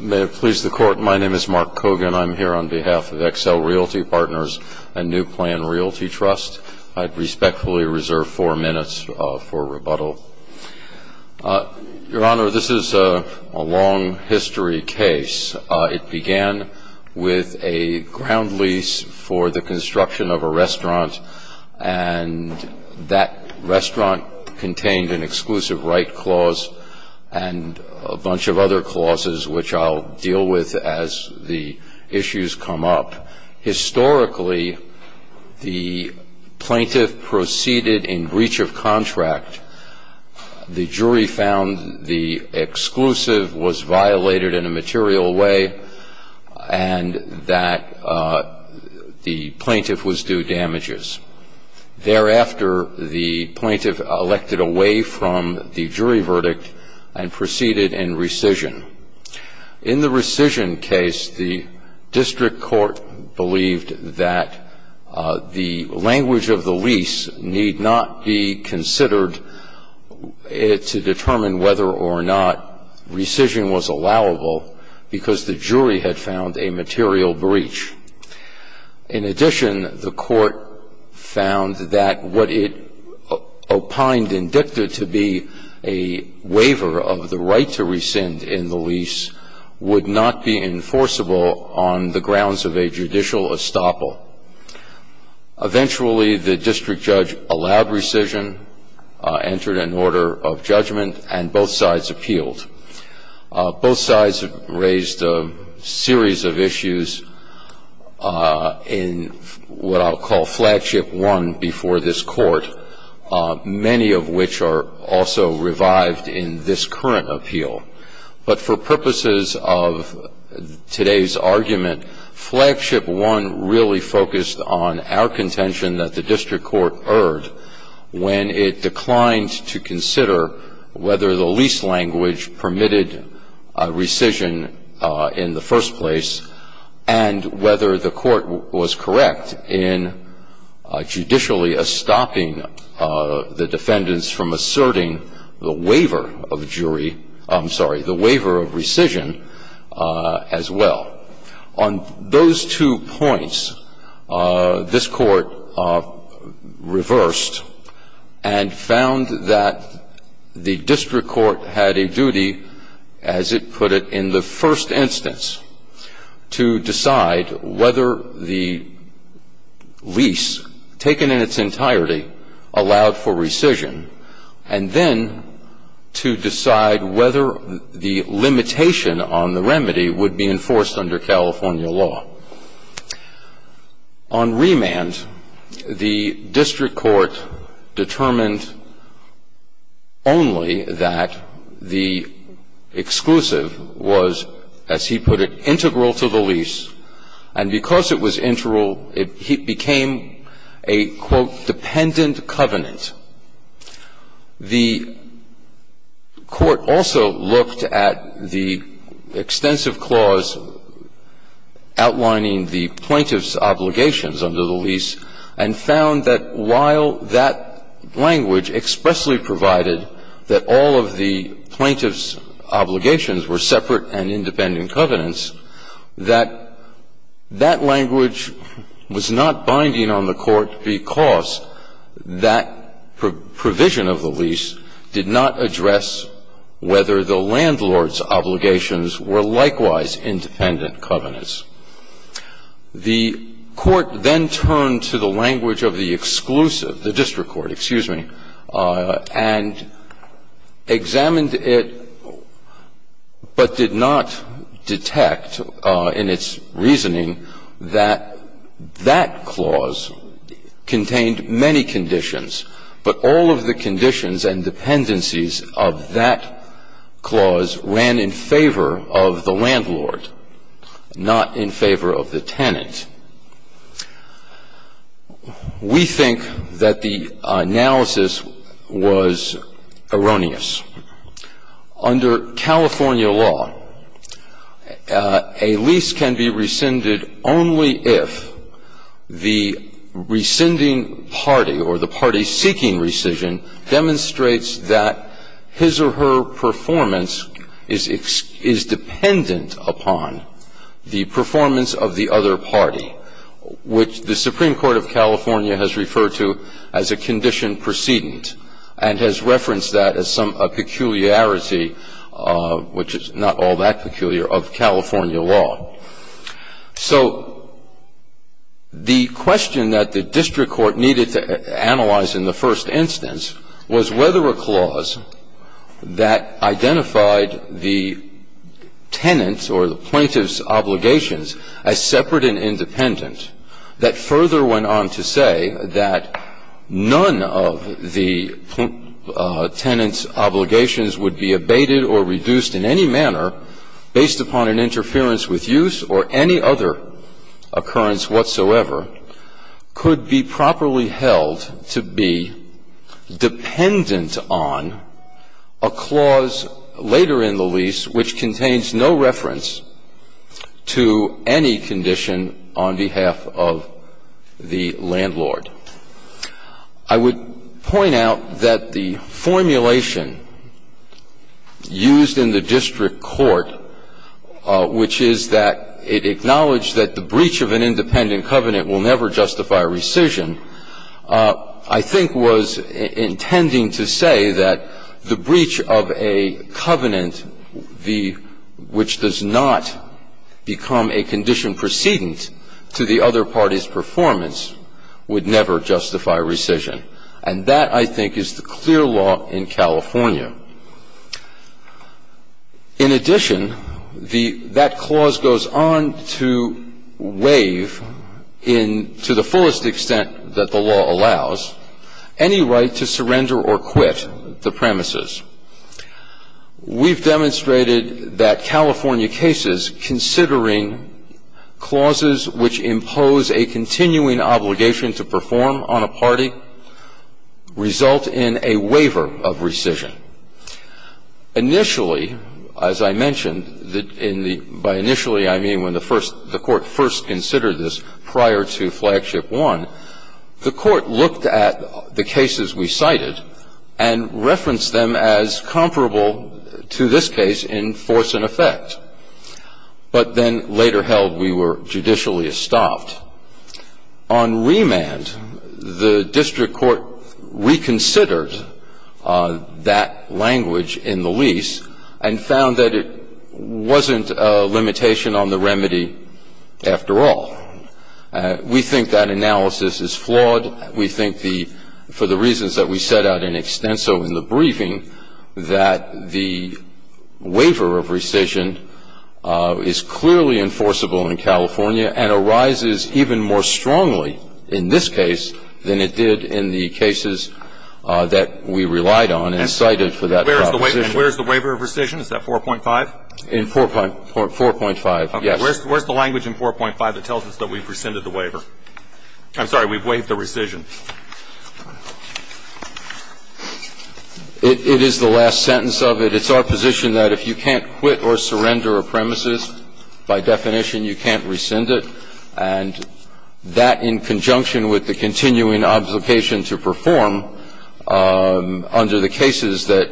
May it please the Court, my name is Mark Kogan. I'm here on behalf of Excel Realty Partners and New Plan Realty Trust. I'd respectfully reserve four minutes for rebuttal. Your Honor, this is a long history case. It began with a ground lease for the construction of a restaurant and that restaurant contained an exclusive right clause and a bunch of other clauses which I'll deal with as the issues come up. Historically, the plaintiff proceeded in breach of contract. The jury found the exclusive was violated in a material way and that the plaintiff was due damages. Thereafter, the plaintiff elected away from the jury verdict and proceeded in rescission. In the rescission case, the district court believed that the language of the lease need not be considered to determine whether or not rescission was allowable because the jury had found a material breach. In addition, the court found that what it opined indicted to be a waiver of the right to rescind in the lease would not be enforceable on the grounds of a judicial estoppel. Eventually, the district judge allowed rescission, entered an order of judgment, and both sides appealed. Both sides raised a series of issues in what I'll call Flagship One before this Court, many of which are also revived in this current appeal. But for purposes of today's argument, Flagship One really focused on our contention that the district court erred when it declined to consider whether the lease language permitted rescission in the first place and whether the court was correct in judicially estopping the defendants from asserting the waiver of jury status. In the case of Flagship One, the district court found that the district court had a duty, as it put it in the first instance, to decide whether the lease, taken in its entirety, allowed for rescission and then to decide whether the limitation on the remedy would be enforced under California law. On remand, the district court determined only that the exclusive was, as he put it, integral to the lease. And because it was integral, it became a, quote, dependent covenant. The court also looked at the extensive clause outlining the plaintiff's obligations under the lease and found that while that language expressly provided that all of the plaintiff's obligations were separate and independent covenants, that that language was not binding on the court because that provision of the lease did not address whether the landlord's obligations were likewise independent covenants. The court then turned to the language of the exclusive, the district court, excuse me, and examined it, but did not detect in its reasoning that that clause contained many conditions, but all of the conditions and dependencies of that clause ran in favor of the landlord, not in favor of the tenant. We think that the analysis was erroneous. Under California law, a lease can be rescinded only if the rescinding party or the party seeking rescission demonstrates that his or her performance is dependent upon the performance of the other party, which the Supreme Court of California has referred to as a condition precedent and has referenced that as a peculiar condition. So the question that the district court needed to analyze in the first instance was whether a clause that identified the tenant's or the plaintiff's obligations as separate and independent that further went on to say that none of the tenant's obligations would be abated or reduced in any manner based upon an interference with use or any other occurrence whatsoever could be properly held to be dependent on a clause later in the lease which contains no reference to any condition on behalf of the tenant. Now, I would point out that the formulation used in the district court, which is that it acknowledged that the breach of an independent covenant will never justify a rescission, I think was intending to say that the breach of a covenant which does not become a condition precedent to the other party's performance would never justify rescission. And that, I think, is the clear law in California. In addition, that clause goes on to waive, to the fullest extent that the law allows, any right to surrender or quit the premises. We've demonstrated that California cases considering clauses which impose a continuing obligation to perform on a party result in a waiver of rescission. Initially, as I mentioned, by initially I mean when the court first considered this prior to Flagship 1, the court looked at the cases we cited and referenced them as comparable to this case in force and effect, but then later held we were judicially estopped. On remand, the district court reconsidered that language in the lease and found that it wasn't a limitation on the remedy after all. We think that analysis is flawed. We think that the waiver of rescission is clearly enforceable in California and arises even more strongly in this case than it did in the cases that we relied on and cited for that proposition. And where's the waiver of rescission? Is that 4.5? In 4.5, yes. Okay. Where's the language in 4.5 that tells us that we've rescinded the waiver? I'm sorry. We've waived the rescission. It is the last sentence of it. It's our position that if you can't quit or surrender a premises, by definition, you can't rescind it. And that in conjunction with the continuing obligation to perform under the cases that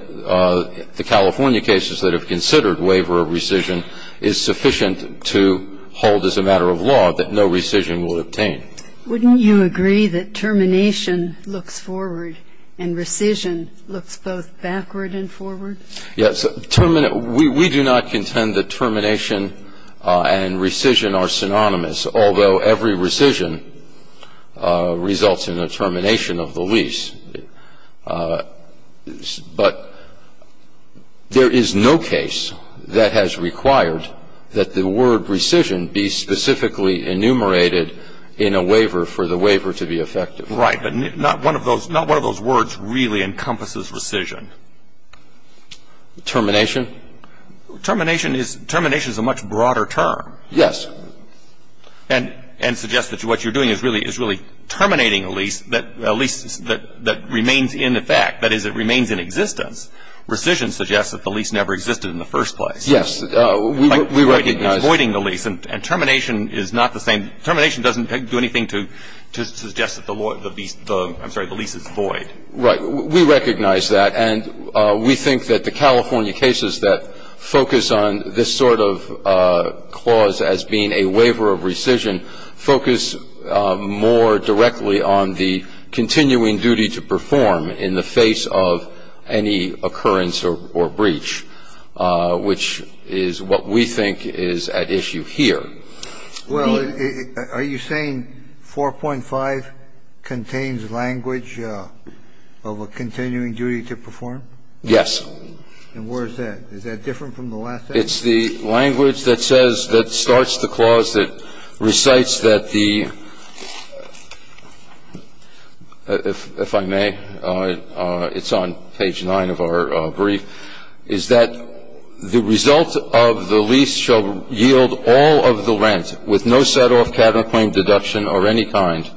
the California cases that have considered waiver of rescission is sufficient to hold as a matter of law that no rescission will obtain. Wouldn't you agree that termination looks forward and rescission looks both backward and forward? Yes. We do not contend that termination and rescission are synonymous, although every rescission results in a termination of the lease. But there is no case that has required that the word rescission be specifically enumerated in a waiver for the waiver to be effective. Right. But not one of those words really encompasses rescission. Termination? Termination is a much broader term. Yes. And suggests that what you're doing is really terminating a lease that remains in effect, that is, it remains in existence. Rescission suggests that the lease never existed in the first place. Yes. We recognize that. Like voiding the lease. And termination is not the same. Termination doesn't do anything to suggest that the lease is void. Right. We recognize that. And we think that the California cases that focus on this sort of clause as being a waiver of rescission focus more directly on the continuing duty to perform in the face of any occurrence or breach, which is what we think is at issue here. Well, are you saying 4.5 contains language of a continuing duty to perform? Yes. And where is that? Is that different from the last sentence? It's the language that says, that starts the clause that recites that the, if I may, it's on page 9 of our brief, is that the result of the lease shall yield all of the rent with no set-off, cabinet claim, deduction, or any kind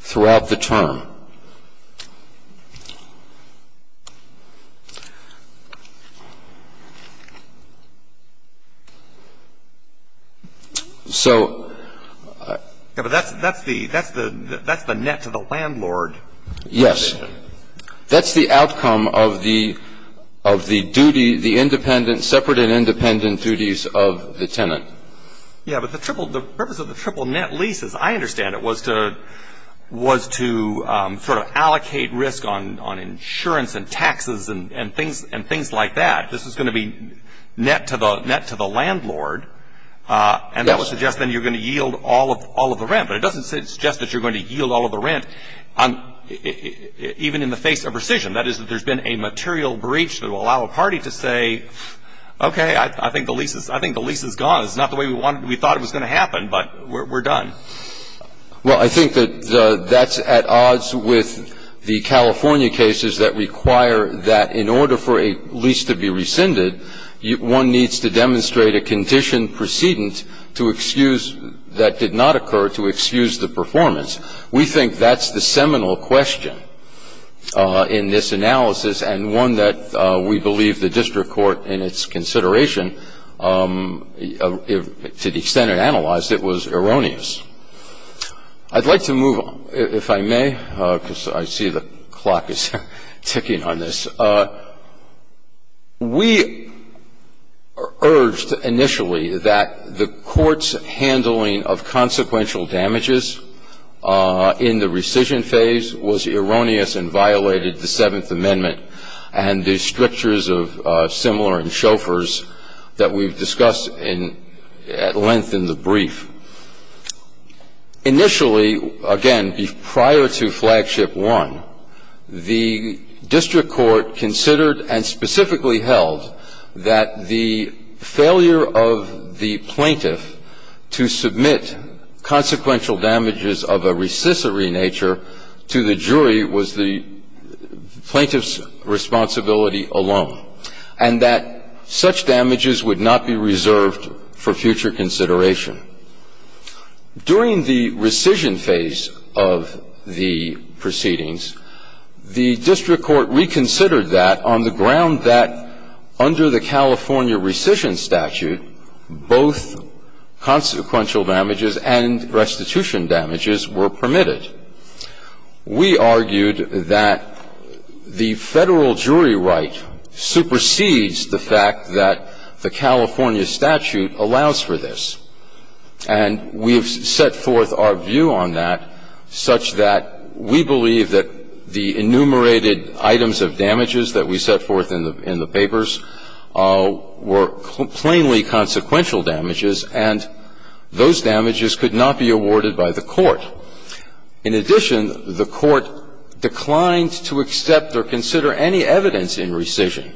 throughout the term. So that's the net to the landlord. Yes. That's the outcome of the duty, the independent, separate and independent duties of the tenant. Yeah. But the purpose of the triple net lease, as I understand it, was to sort of allocate risk on insurance and taxes and things like that. This is going to be net to the landlord. Yes. And that would suggest then you're going to yield all of the rent. But it doesn't suggest that you're going to yield all of the rent even in the face of rescission. That is, that there's been a material breach that will allow a party to say, okay, I think the lease is gone. It's not the way we thought it was going to happen, but we're done. Well, I think that that's at odds with the California cases that require that in order for a lease to be rescinded, one needs to demonstrate a condition precedent to excuse that did not occur to excuse the performance. We think that's the seminal question in this analysis and one that we believe the district court in its consideration, to the extent it analyzed, it was erroneous. I'd like to move on, if I may, because I see the clock is ticking on this. We urged initially that the court's handling of consequential damages in the rescission phase was erroneous and violated the Seventh Amendment and the strictures of similar in Chauffeurs that we've discussed at length in the brief. Initially, again, prior to Flagship 1, the district court considered and specifically held that the failure of the plaintiff to submit consequential damages of a recessory nature to the jury was the plaintiff's responsibility alone and that such damages would not be reserved for future consideration. During the rescission phase of the proceedings, the district court reconsidered that on the ground that under the California rescission statute, both consequential damages and restitution damages were permitted. We argued that the Federal jury right supersedes the fact that the California statute allows for this. And we have set forth our view on that such that we believe that the enumerated items of damages that we set forth in the papers were plainly consequential damages, and those damages could not be awarded by the court. In addition, the court declined to accept or consider any evidence in rescission,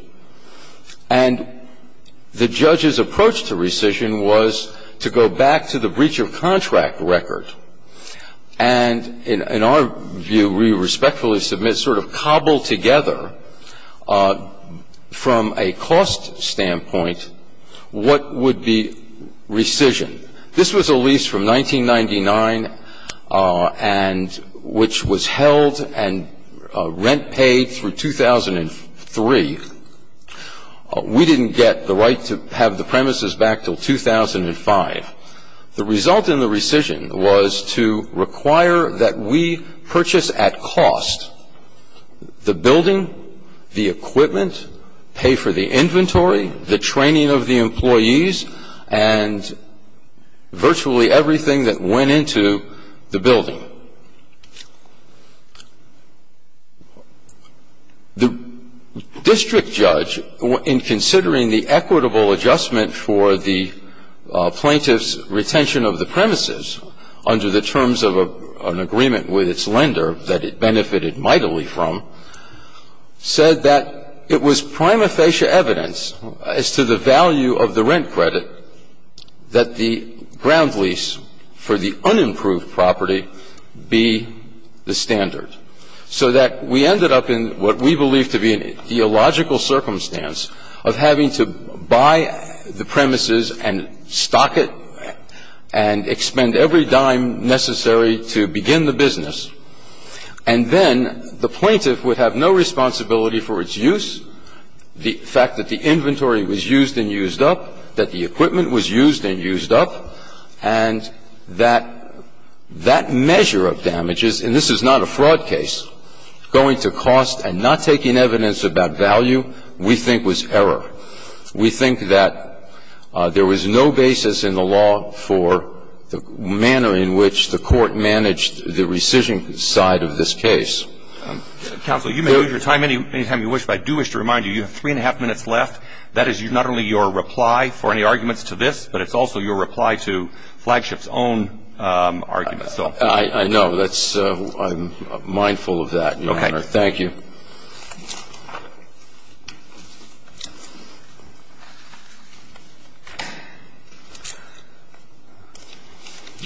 and the judge's approach to rescission was to go back to the breach of contract record and, in our view, we respectfully submit sort of cobbled together from a cost standpoint what would be rescission. This was a lease from 1999 and which was held and rent paid through 2003. We didn't get the right to have the premises back until 2005. The result in the rescission was to require that we purchase at cost the building, the equipment, pay for the inventory, the training of the employees, and virtually everything that went into the building. The district judge, in considering the equitable adjustment for the plaintiff's retention of the premises under the terms of an agreement with its lender that it benefited mightily from, said that it was prima facie evidence as to the value of the rent credit that the ground lease for the unimproved property be the standard. So that we ended up in what we believe to be a geological circumstance of having to buy the premises and stock it and expend every dime necessary to begin the business. And then the plaintiff would have no responsibility for its use, the fact that the equipment was used and used up, and that that measure of damages, and this is not a fraud case, going to cost and not taking evidence about value we think was error. We think that there was no basis in the law for the manner in which the Court managed the rescission side of this case. Counsel, you may use your time anytime you wish, but I do wish to remind you, you have three and a half minutes left. That is not only your reply for any arguments to this, but it's also your reply to Flagship's own arguments. I know. I'm mindful of that, Your Honor. Thank you.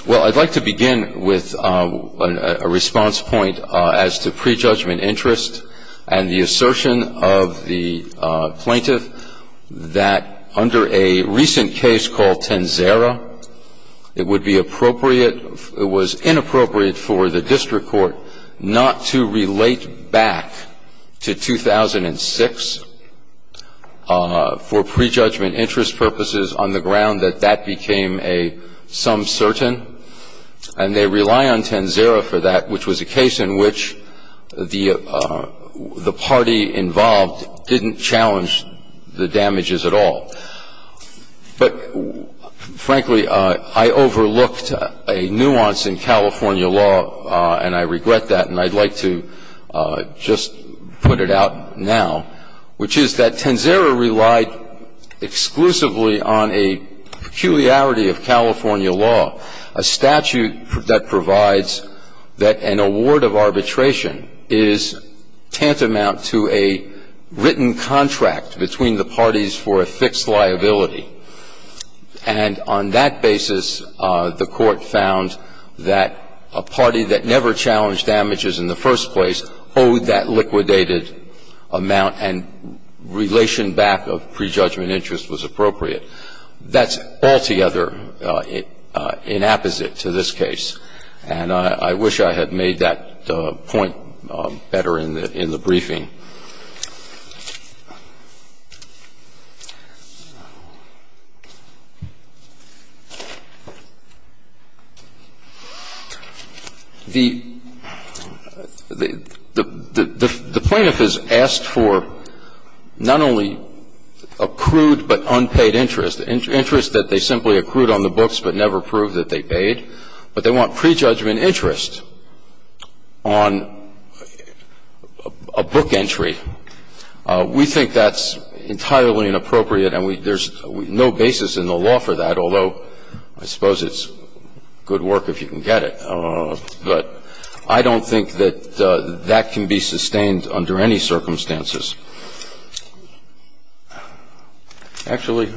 Well, I'd like to begin with a response point as to prejudgment interest and the assertion of the plaintiff that under a recent case called Tenzera, it would be appropriate or it was inappropriate for the district court not to relate back to 2006 for prejudgment interest purposes on the ground that that became a some certain, and they rely on Tenzera for that, which was a case in which the party involved didn't challenge the damages at all. But, frankly, I overlooked a nuance in California law, and I regret that, and I'd like to just put it out now, which is that Tenzera relied exclusively on a peculiarity of California law, a statute that provides that an award of arbitration is tantamount to a written contract between the parties for a fixed liability. And on that basis, the Court found that a party that never challenged damages in the first place owed that liquidated amount and relation back of prejudgment interest was appropriate. That's altogether inapposite to this case. And I wish I had made that point better in the briefing. The plaintiff has asked for not only accrued but unpaid interest, and the plaintiff has asked for unpaid interest, interest that they simply accrued on the books but never proved that they paid, but they want prejudgment interest on a book entry. We think that's entirely inappropriate, and there's no basis in the law for that, although I suppose it's good work if you can get it. But I don't think that that can be sustained under any circumstances. Actually,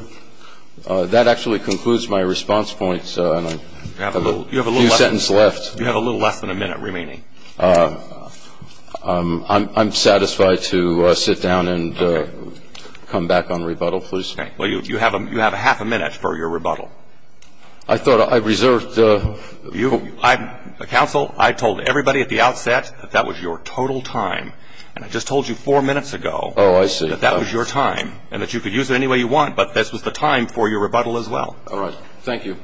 that actually concludes my response points, and I have a few sentences left. You have a little less than a minute remaining. I'm satisfied to sit down and come back on rebuttal, please. Okay. Well, you have a half a minute for your rebuttal. I thought I reserved. Counsel, I told everybody at the outset that that was your total time, and I just told you four minutes ago that that was your time and that you could use it any way you want, but this was the time for your rebuttal as well. All right. Thank you.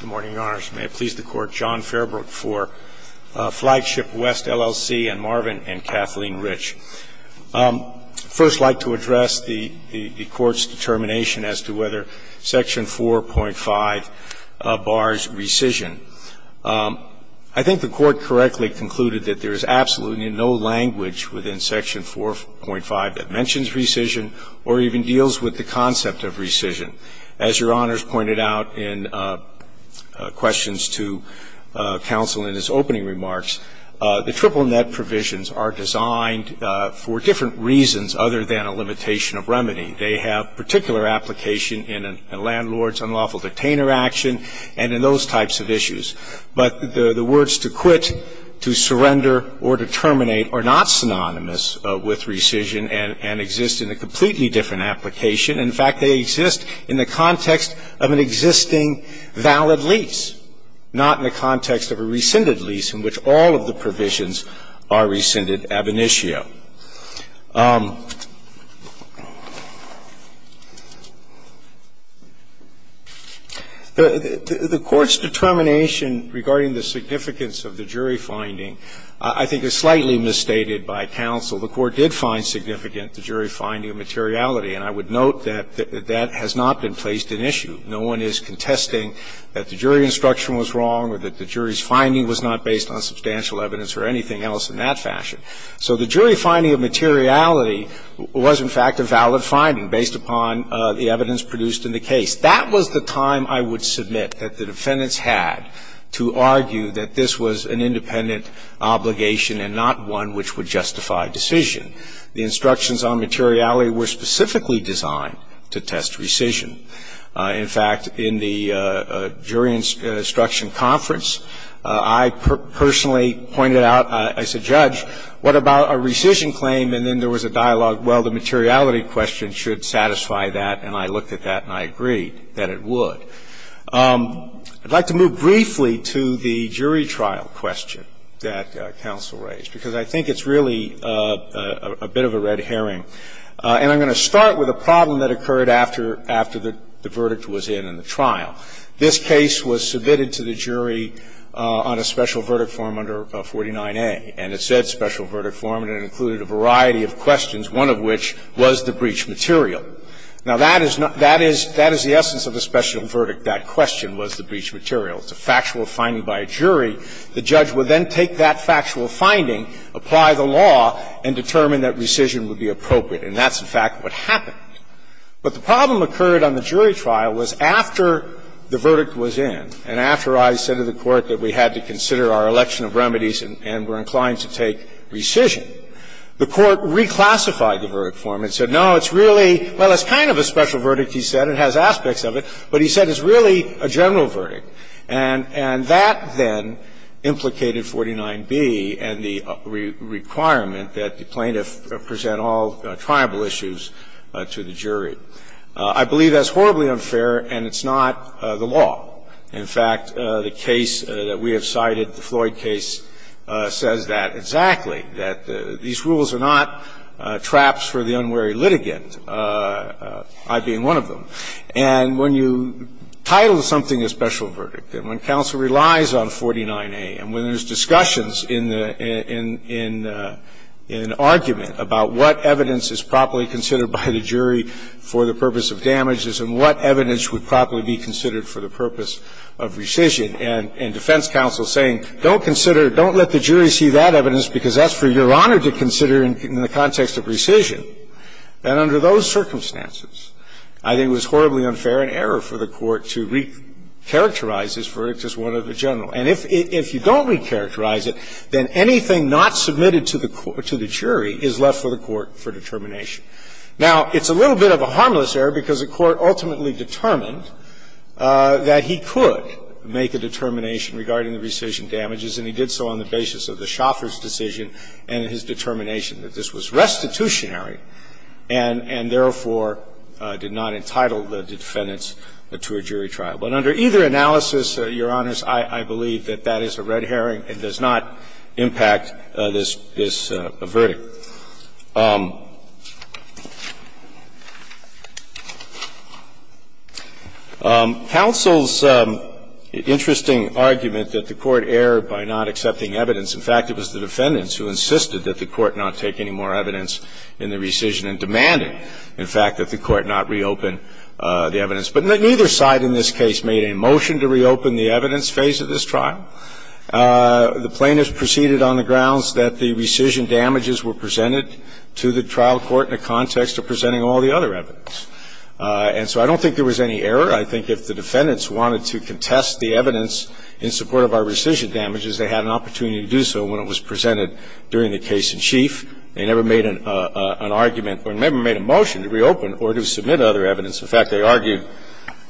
Good morning, Your Honors. May it please the Court. John Fairbrook for Flagship West, LLC, and Marvin and Kathleen Rich. First, I'd like to address the Court's determination as to whether Section 4.5 bars rescission. I think the Court correctly concluded that there is absolutely no language within Section 4.5 that mentions rescission or even deals with the concept of rescission. As Your Honors pointed out in questions to counsel in his opening remarks, the triple net provisions are designed for different reasons other than a limitation of remedy. They have particular application in a landlord's unlawful detainer action and in those types of issues. But the words to quit, to surrender, or to terminate are not synonymous with rescission and exist in a completely different application. In fact, they exist in the context of an existing valid lease, not in the context of a rescinded lease in which all of the provisions are rescinded ab initio. The Court's determination regarding the significance of the jury finding, I think, is slightly misstated by counsel. The Court did find significant the jury finding of materiality, and I would note that that has not been placed in issue. No one is contesting that the jury instruction was wrong or that the jury's finding was not based on substantial evidence or anything else in that fashion. So the jury finding of materiality was, in fact, a valid finding based upon the evidence produced in the case. That was the time, I would submit, that the defendants had to argue that this was an independent obligation and not one which would justify decision. The instructions on materiality were specifically designed to test rescission. In fact, in the jury instruction conference, I personally pointed out, as a judge, what about a rescission claim, and then there was a dialogue, well, the materiality question should satisfy that, and I looked at that and I agreed that it would. I'd like to move briefly to the jury trial question that counsel raised, because I think it's really a bit of a red herring. And I'm going to start with a problem that occurred after the verdict was in in the trial. This case was submitted to the jury on a special verdict form under 49A, and it said special verdict form and it included a variety of questions, one of which was the breach material. Now, that is the essence of a special verdict. That question was the breach material. It's a factual finding by a jury. The judge would then take that factual finding, apply the law, and determine that rescission would be appropriate, and that's, in fact, what happened. But the problem occurred on the jury trial was after the verdict was in, and after I said to the Court that we had to consider our election of remedies and were inclined to take rescission, the Court reclassified the verdict form and said, no, it's really – well, it's kind of a special verdict, he said, it has aspects of it, but he said it's really a general verdict. And that then implicated 49B and the requirement that the plaintiff present all tribal issues to the jury. I believe that's horribly unfair and it's not the law. In fact, the case that we have cited, the Floyd case, says that exactly, that these rules are not traps for the unwary litigant, I being one of them. And when you title something a special verdict, and when counsel relies on 49A, and when there's discussions in the – in argument about what evidence is properly considered by the jury for the purpose of damages and what evidence would properly be considered for the purpose of rescission, and defense counsel saying, don't consider it, don't let the jury see that evidence because that's for Your Honor to consider in the context of rescission, then under those circumstances, I think it was horribly unfair and error for the Court to recharacterize this verdict as one of the general. And if you don't recharacterize it, then anything not submitted to the jury is left for the Court for determination. Now, it's a little bit of a harmless error because the Court ultimately determined that he could make a determination regarding the rescission damages, and he did so on the basis of the Shoffer's decision and his determination that this was restitutionary and therefore did not entitle the defendants to a jury trial. But under either analysis, Your Honors, I believe that that is a red herring. It does not impact this verdict. Counsel's interesting argument that the Court erred by not accepting evidence, in fact, it was the defendants who insisted that the Court not take any more evidence in the rescission and demanded, in fact, that the Court not reopen the evidence. But neither side in this case made a motion to reopen the evidence phase of this trial. The plaintiffs proceeded on the grounds that the rescission damages were presented to the trial court in the context of presenting all the other evidence. And so I don't think there was any error. I think if the defendants wanted to contest the evidence in support of our rescission damages, they had an opportunity to do so when it was presented during the case-in-chief. They never made an argument or never made a motion to reopen or to submit other evidence. In fact, they argued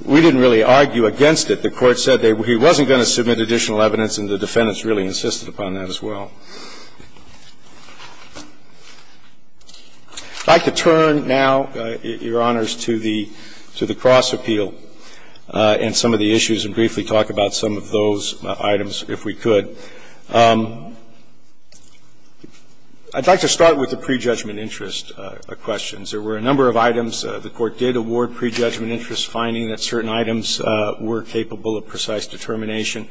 we didn't really argue against it. The Court said he wasn't going to submit additional evidence, and the defendants really insisted upon that as well. I'd like to turn now, Your Honors, to the cross-appeal and some of the issues and briefly talk about some of those items, if we could. I'd like to start with the prejudgment interest questions. There were a number of items. The Court did award prejudgment interest, finding that certain items were capable of precise determination.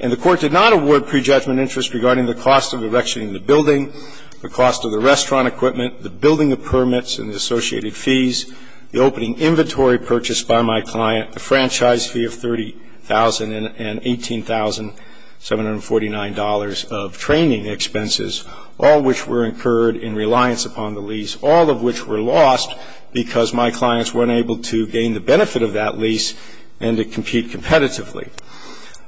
And the Court did not award prejudgment interest regarding the cost of erection in the building, the cost of the restaurant equipment, the building of permits and the associated fees, the opening inventory purchased by my client, the franchise fee of $30,000 and $18,749 of training expenses, all which were incurred in reliance upon the lease, all of which were lost because my clients weren't able to gain the benefit of that lease and to compete competitively.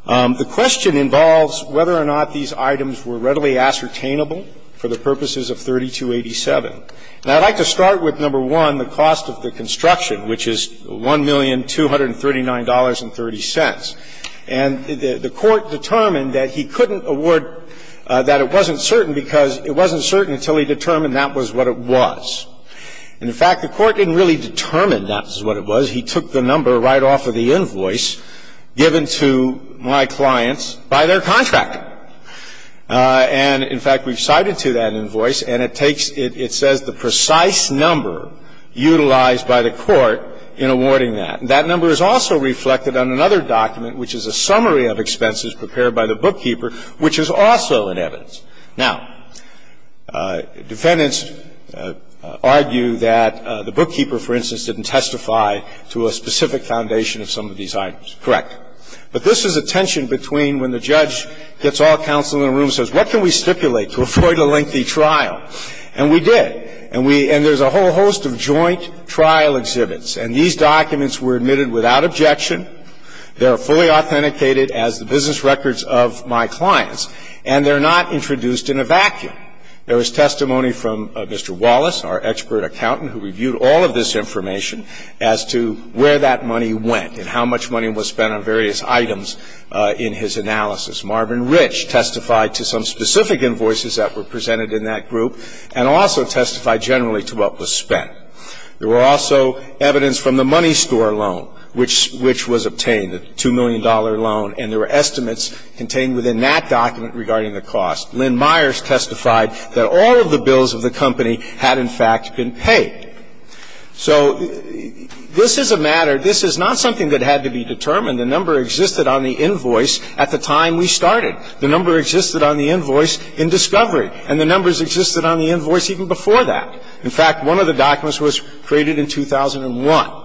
The question involves whether or not these items were readily ascertainable for the purposes of 3287. And I'd like to start with, number one, the cost of the construction, which is $1,239.30. And the Court determined that he couldn't award that it wasn't certain because it wasn't certain until he determined that was what it was. And, in fact, the Court didn't really determine that was what it was. He took the number right off of the invoice given to my clients by their contractor. And, in fact, we've cited to that invoice, and it takes the precise number utilized by the Court in awarding that. And that number is also reflected on another document, which is a summary of expenses prepared by the bookkeeper, which is also in evidence. Now, defendants argue that the bookkeeper, for instance, didn't testify to a specific foundation of some of these items. Correct. But this is a tension between when the judge gets all the counsel in the room and says, what can we stipulate to avoid a lengthy trial? And we did. And we – and there's a whole host of joint trial exhibits. And these documents were admitted without objection. They are fully authenticated as the business records of my clients. And they're not introduced in a vacuum. There was testimony from Mr. Wallace, our expert accountant, who reviewed all of this information as to where that money went and how much money was spent on various items in his analysis. Marvin Rich testified to some specific invoices that were presented in that group and also testified generally to what was spent. There were also evidence from the money store loan, which was obtained, the $2 million loan, and there were estimates contained within that document regarding the cost. Lynn Myers testified that all of the bills of the company had, in fact, been paid. So this is a matter – this is not something that had to be determined. The number existed on the invoice at the time we started. The number existed on the invoice in discovery. And the numbers existed on the invoice even before that. In fact, one of the documents was created in 2001.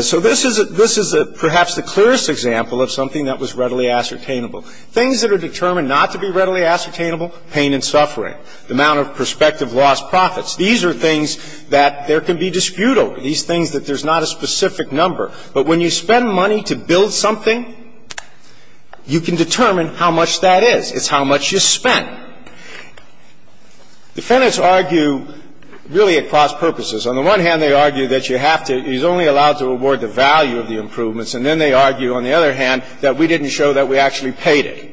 So this is a – this is perhaps the clearest example of something that was readily ascertainable. Things that are determined not to be readily ascertainable, pain and suffering, the amount of prospective lost profits. These are things that there can be dispute over, these things that there's not a specific number. But when you spend money to build something, you can determine how much that is. It's how much you spent. Defendants argue really at cross purposes. On the one hand, they argue that you have to – he's only allowed to award the value of the improvements. And then they argue, on the other hand, that we didn't show that we actually paid it.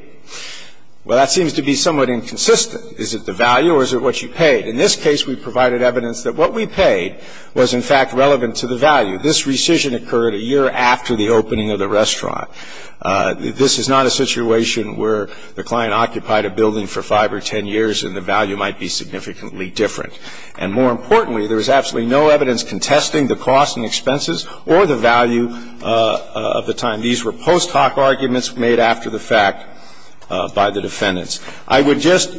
Well, that seems to be somewhat inconsistent. Is it the value or is it what you paid? In this case, we provided evidence that what we paid was, in fact, relevant to the value. This rescission occurred a year after the opening of the restaurant. This is not a situation where the client occupied a building for 5 or 10 years and the value might be significantly different. And more importantly, there is absolutely no evidence contesting the cost and expenses or the value of the time. These were post hoc arguments made after the fact by the defendants. I would just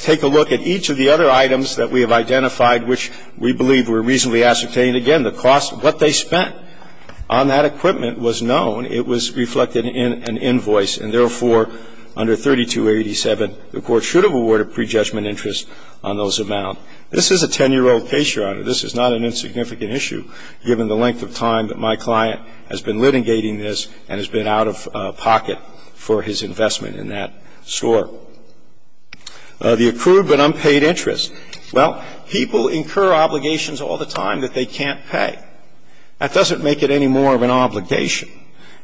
take a look at each of the other items that we have identified which we believe were reasonably ascertained. Again, the cost of what they spent on that equipment was known. It was reflected in an invoice. And therefore, under 3287, the Court should have awarded prejudgment interest on those amount. This is a 10-year-old case, Your Honor. This is not an insignificant issue, given the length of time that my client has been litigating this and has been out of pocket for his investment in that store. The accrued but unpaid interest. Well, people incur obligations all the time that they can't pay. That doesn't make it any more of an obligation.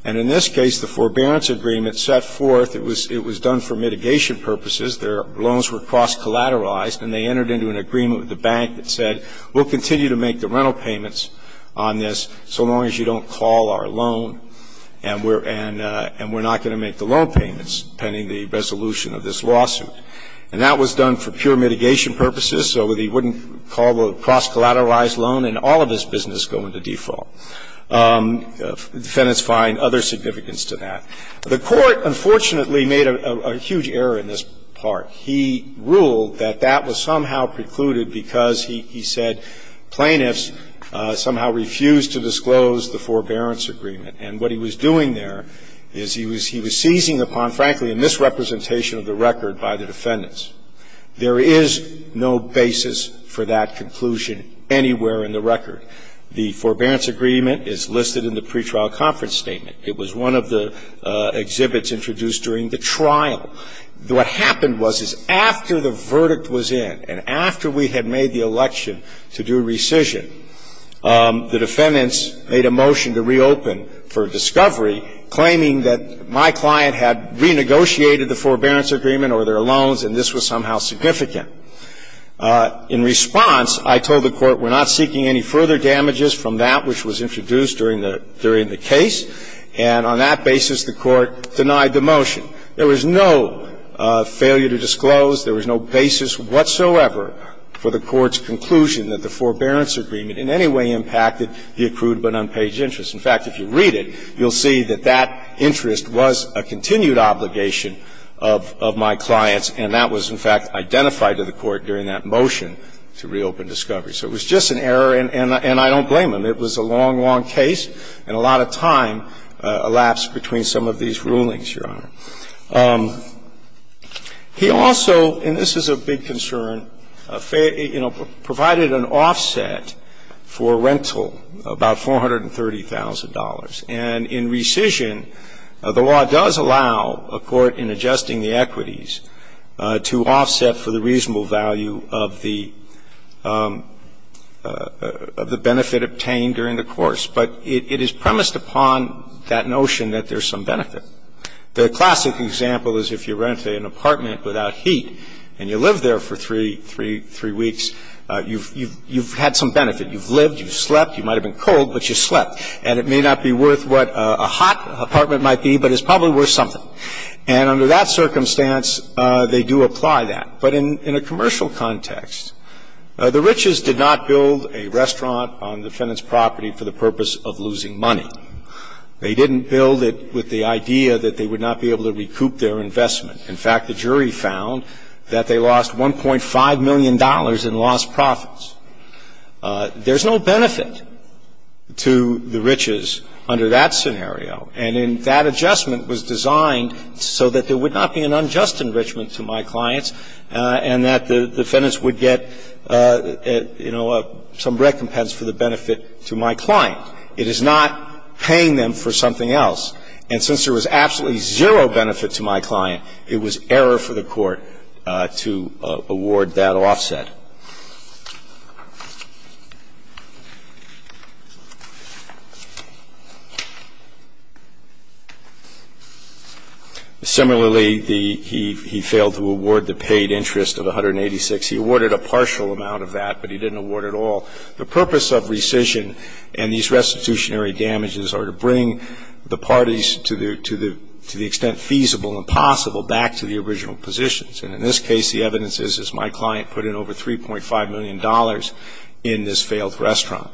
And in this case, the forbearance agreement set forth it was done for mitigation purposes. Their loans were cross-collateralized and they entered into an agreement with the bank that said we'll continue to make the rental payments on this so long as you don't call our loan and we're not going to make the loan payments pending the resolution of this lawsuit. And that was done for pure mitigation purposes so that he wouldn't call a cross-collateralized loan and all of his business go into default. Defendants find other significance to that. The Court, unfortunately, made a huge error in this part. He ruled that that was somehow precluded because he said plaintiffs somehow refused to disclose the forbearance agreement. And what he was doing there is he was seizing upon, frankly, a misrepresentation of the record by the defendants. There is no basis for that conclusion anywhere in the record. The forbearance agreement is listed in the pretrial conference statement. It was one of the exhibits introduced during the trial. What happened was, is after the verdict was in and after we had made the election to do rescission, the defendants made a motion to reopen for discovery, claiming that my client had renegotiated the forbearance agreement or their loans and this was somehow significant. In response, I told the Court we're not seeking any further damages from that which was introduced during the case. And on that basis, the Court denied the motion. There was no failure to disclose. There was no basis whatsoever for the Court's conclusion that the forbearance agreement in any way impacted the accrued but unpaid interest. In fact, if you read it, you'll see that that interest was a continued obligation of my client's and that was, in fact, identified to the Court during that motion to reopen discovery. So it was just an error and I don't blame him. It was a long, long case and a lot of time elapsed between some of these rulings, Your Honor. He also, and this is a big concern, provided an offset for rental, about $430,000. And in rescission, the law does allow a court in adjusting the equities to offset for the reasonable value of the benefit obtained during the course. But it is premised upon that notion that there's some benefit. The classic example is if you rent an apartment without heat and you live there for three weeks, you've had some benefit. You've lived, you've slept. You might have been cold, but you slept. And it may not be worth what a hot apartment might be, but it's probably worth something. And under that circumstance, they do apply that. But in a commercial context, the riches did not build a restaurant on the defendant's property for the purpose of losing money. They didn't build it with the idea that they would not be able to recoup their investment. In fact, the jury found that they lost $1.5 million in lost profits. There's no benefit to the riches under that scenario. And in that adjustment was designed so that there would not be an unjust enrichment to my clients and that the defendants would get, you know, some recompense for the benefit to my client. It is not paying them for something else. And since there was absolutely zero benefit to my client, it was error for the court to award that offset. Similarly, he failed to award the paid interest of $186. He awarded a partial amount of that, but he didn't award it all. The purpose of rescission and these restitutionary damages are to bring the parties to the extent feasible and possible back to the original positions. And in this case, the evidence is, is my client put in over $3.5 million in this failed restaurant.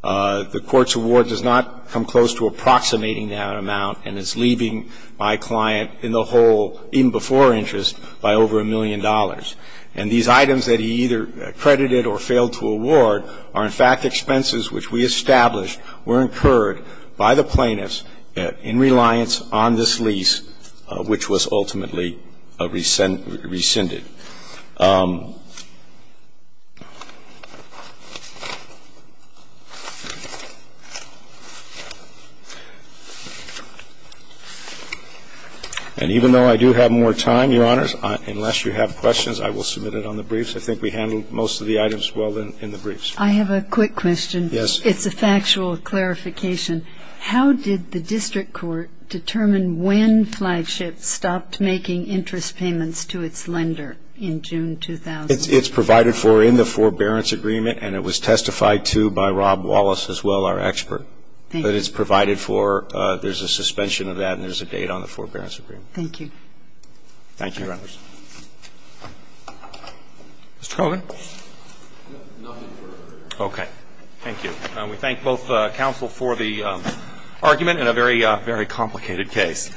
The court's award does not come close to approximating that amount, and it's leaving my client in the whole in-before interest by over $1 million. And these items that he either accredited or failed to award are, in fact, expenses which we established were incurred by the plaintiffs in reliance on this lease, which was ultimately rescinded. And even though I do have more time, Your Honors, unless you have questions, I will submit it on the briefs. I think we handled most of the items well in the briefs. I have a quick question. It's a factual clarification. How did the district court determine when Flagship stopped making interest payments to its lender in June 2000? It's provided for in the forbearance agreement, and it was testified to by Rob Wallace as well, our expert. Thank you. But it's provided for. There's a suspension of that, and there's a date on the forbearance agreement. Thank you. Thank you, Your Honors. Mr. Colvin. Nothing further. Okay. Thank you. We thank both counsel for the argument in a very complicated case.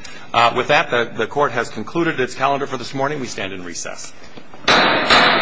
With that, the court has concluded its calendar for this morning. We stand in recess.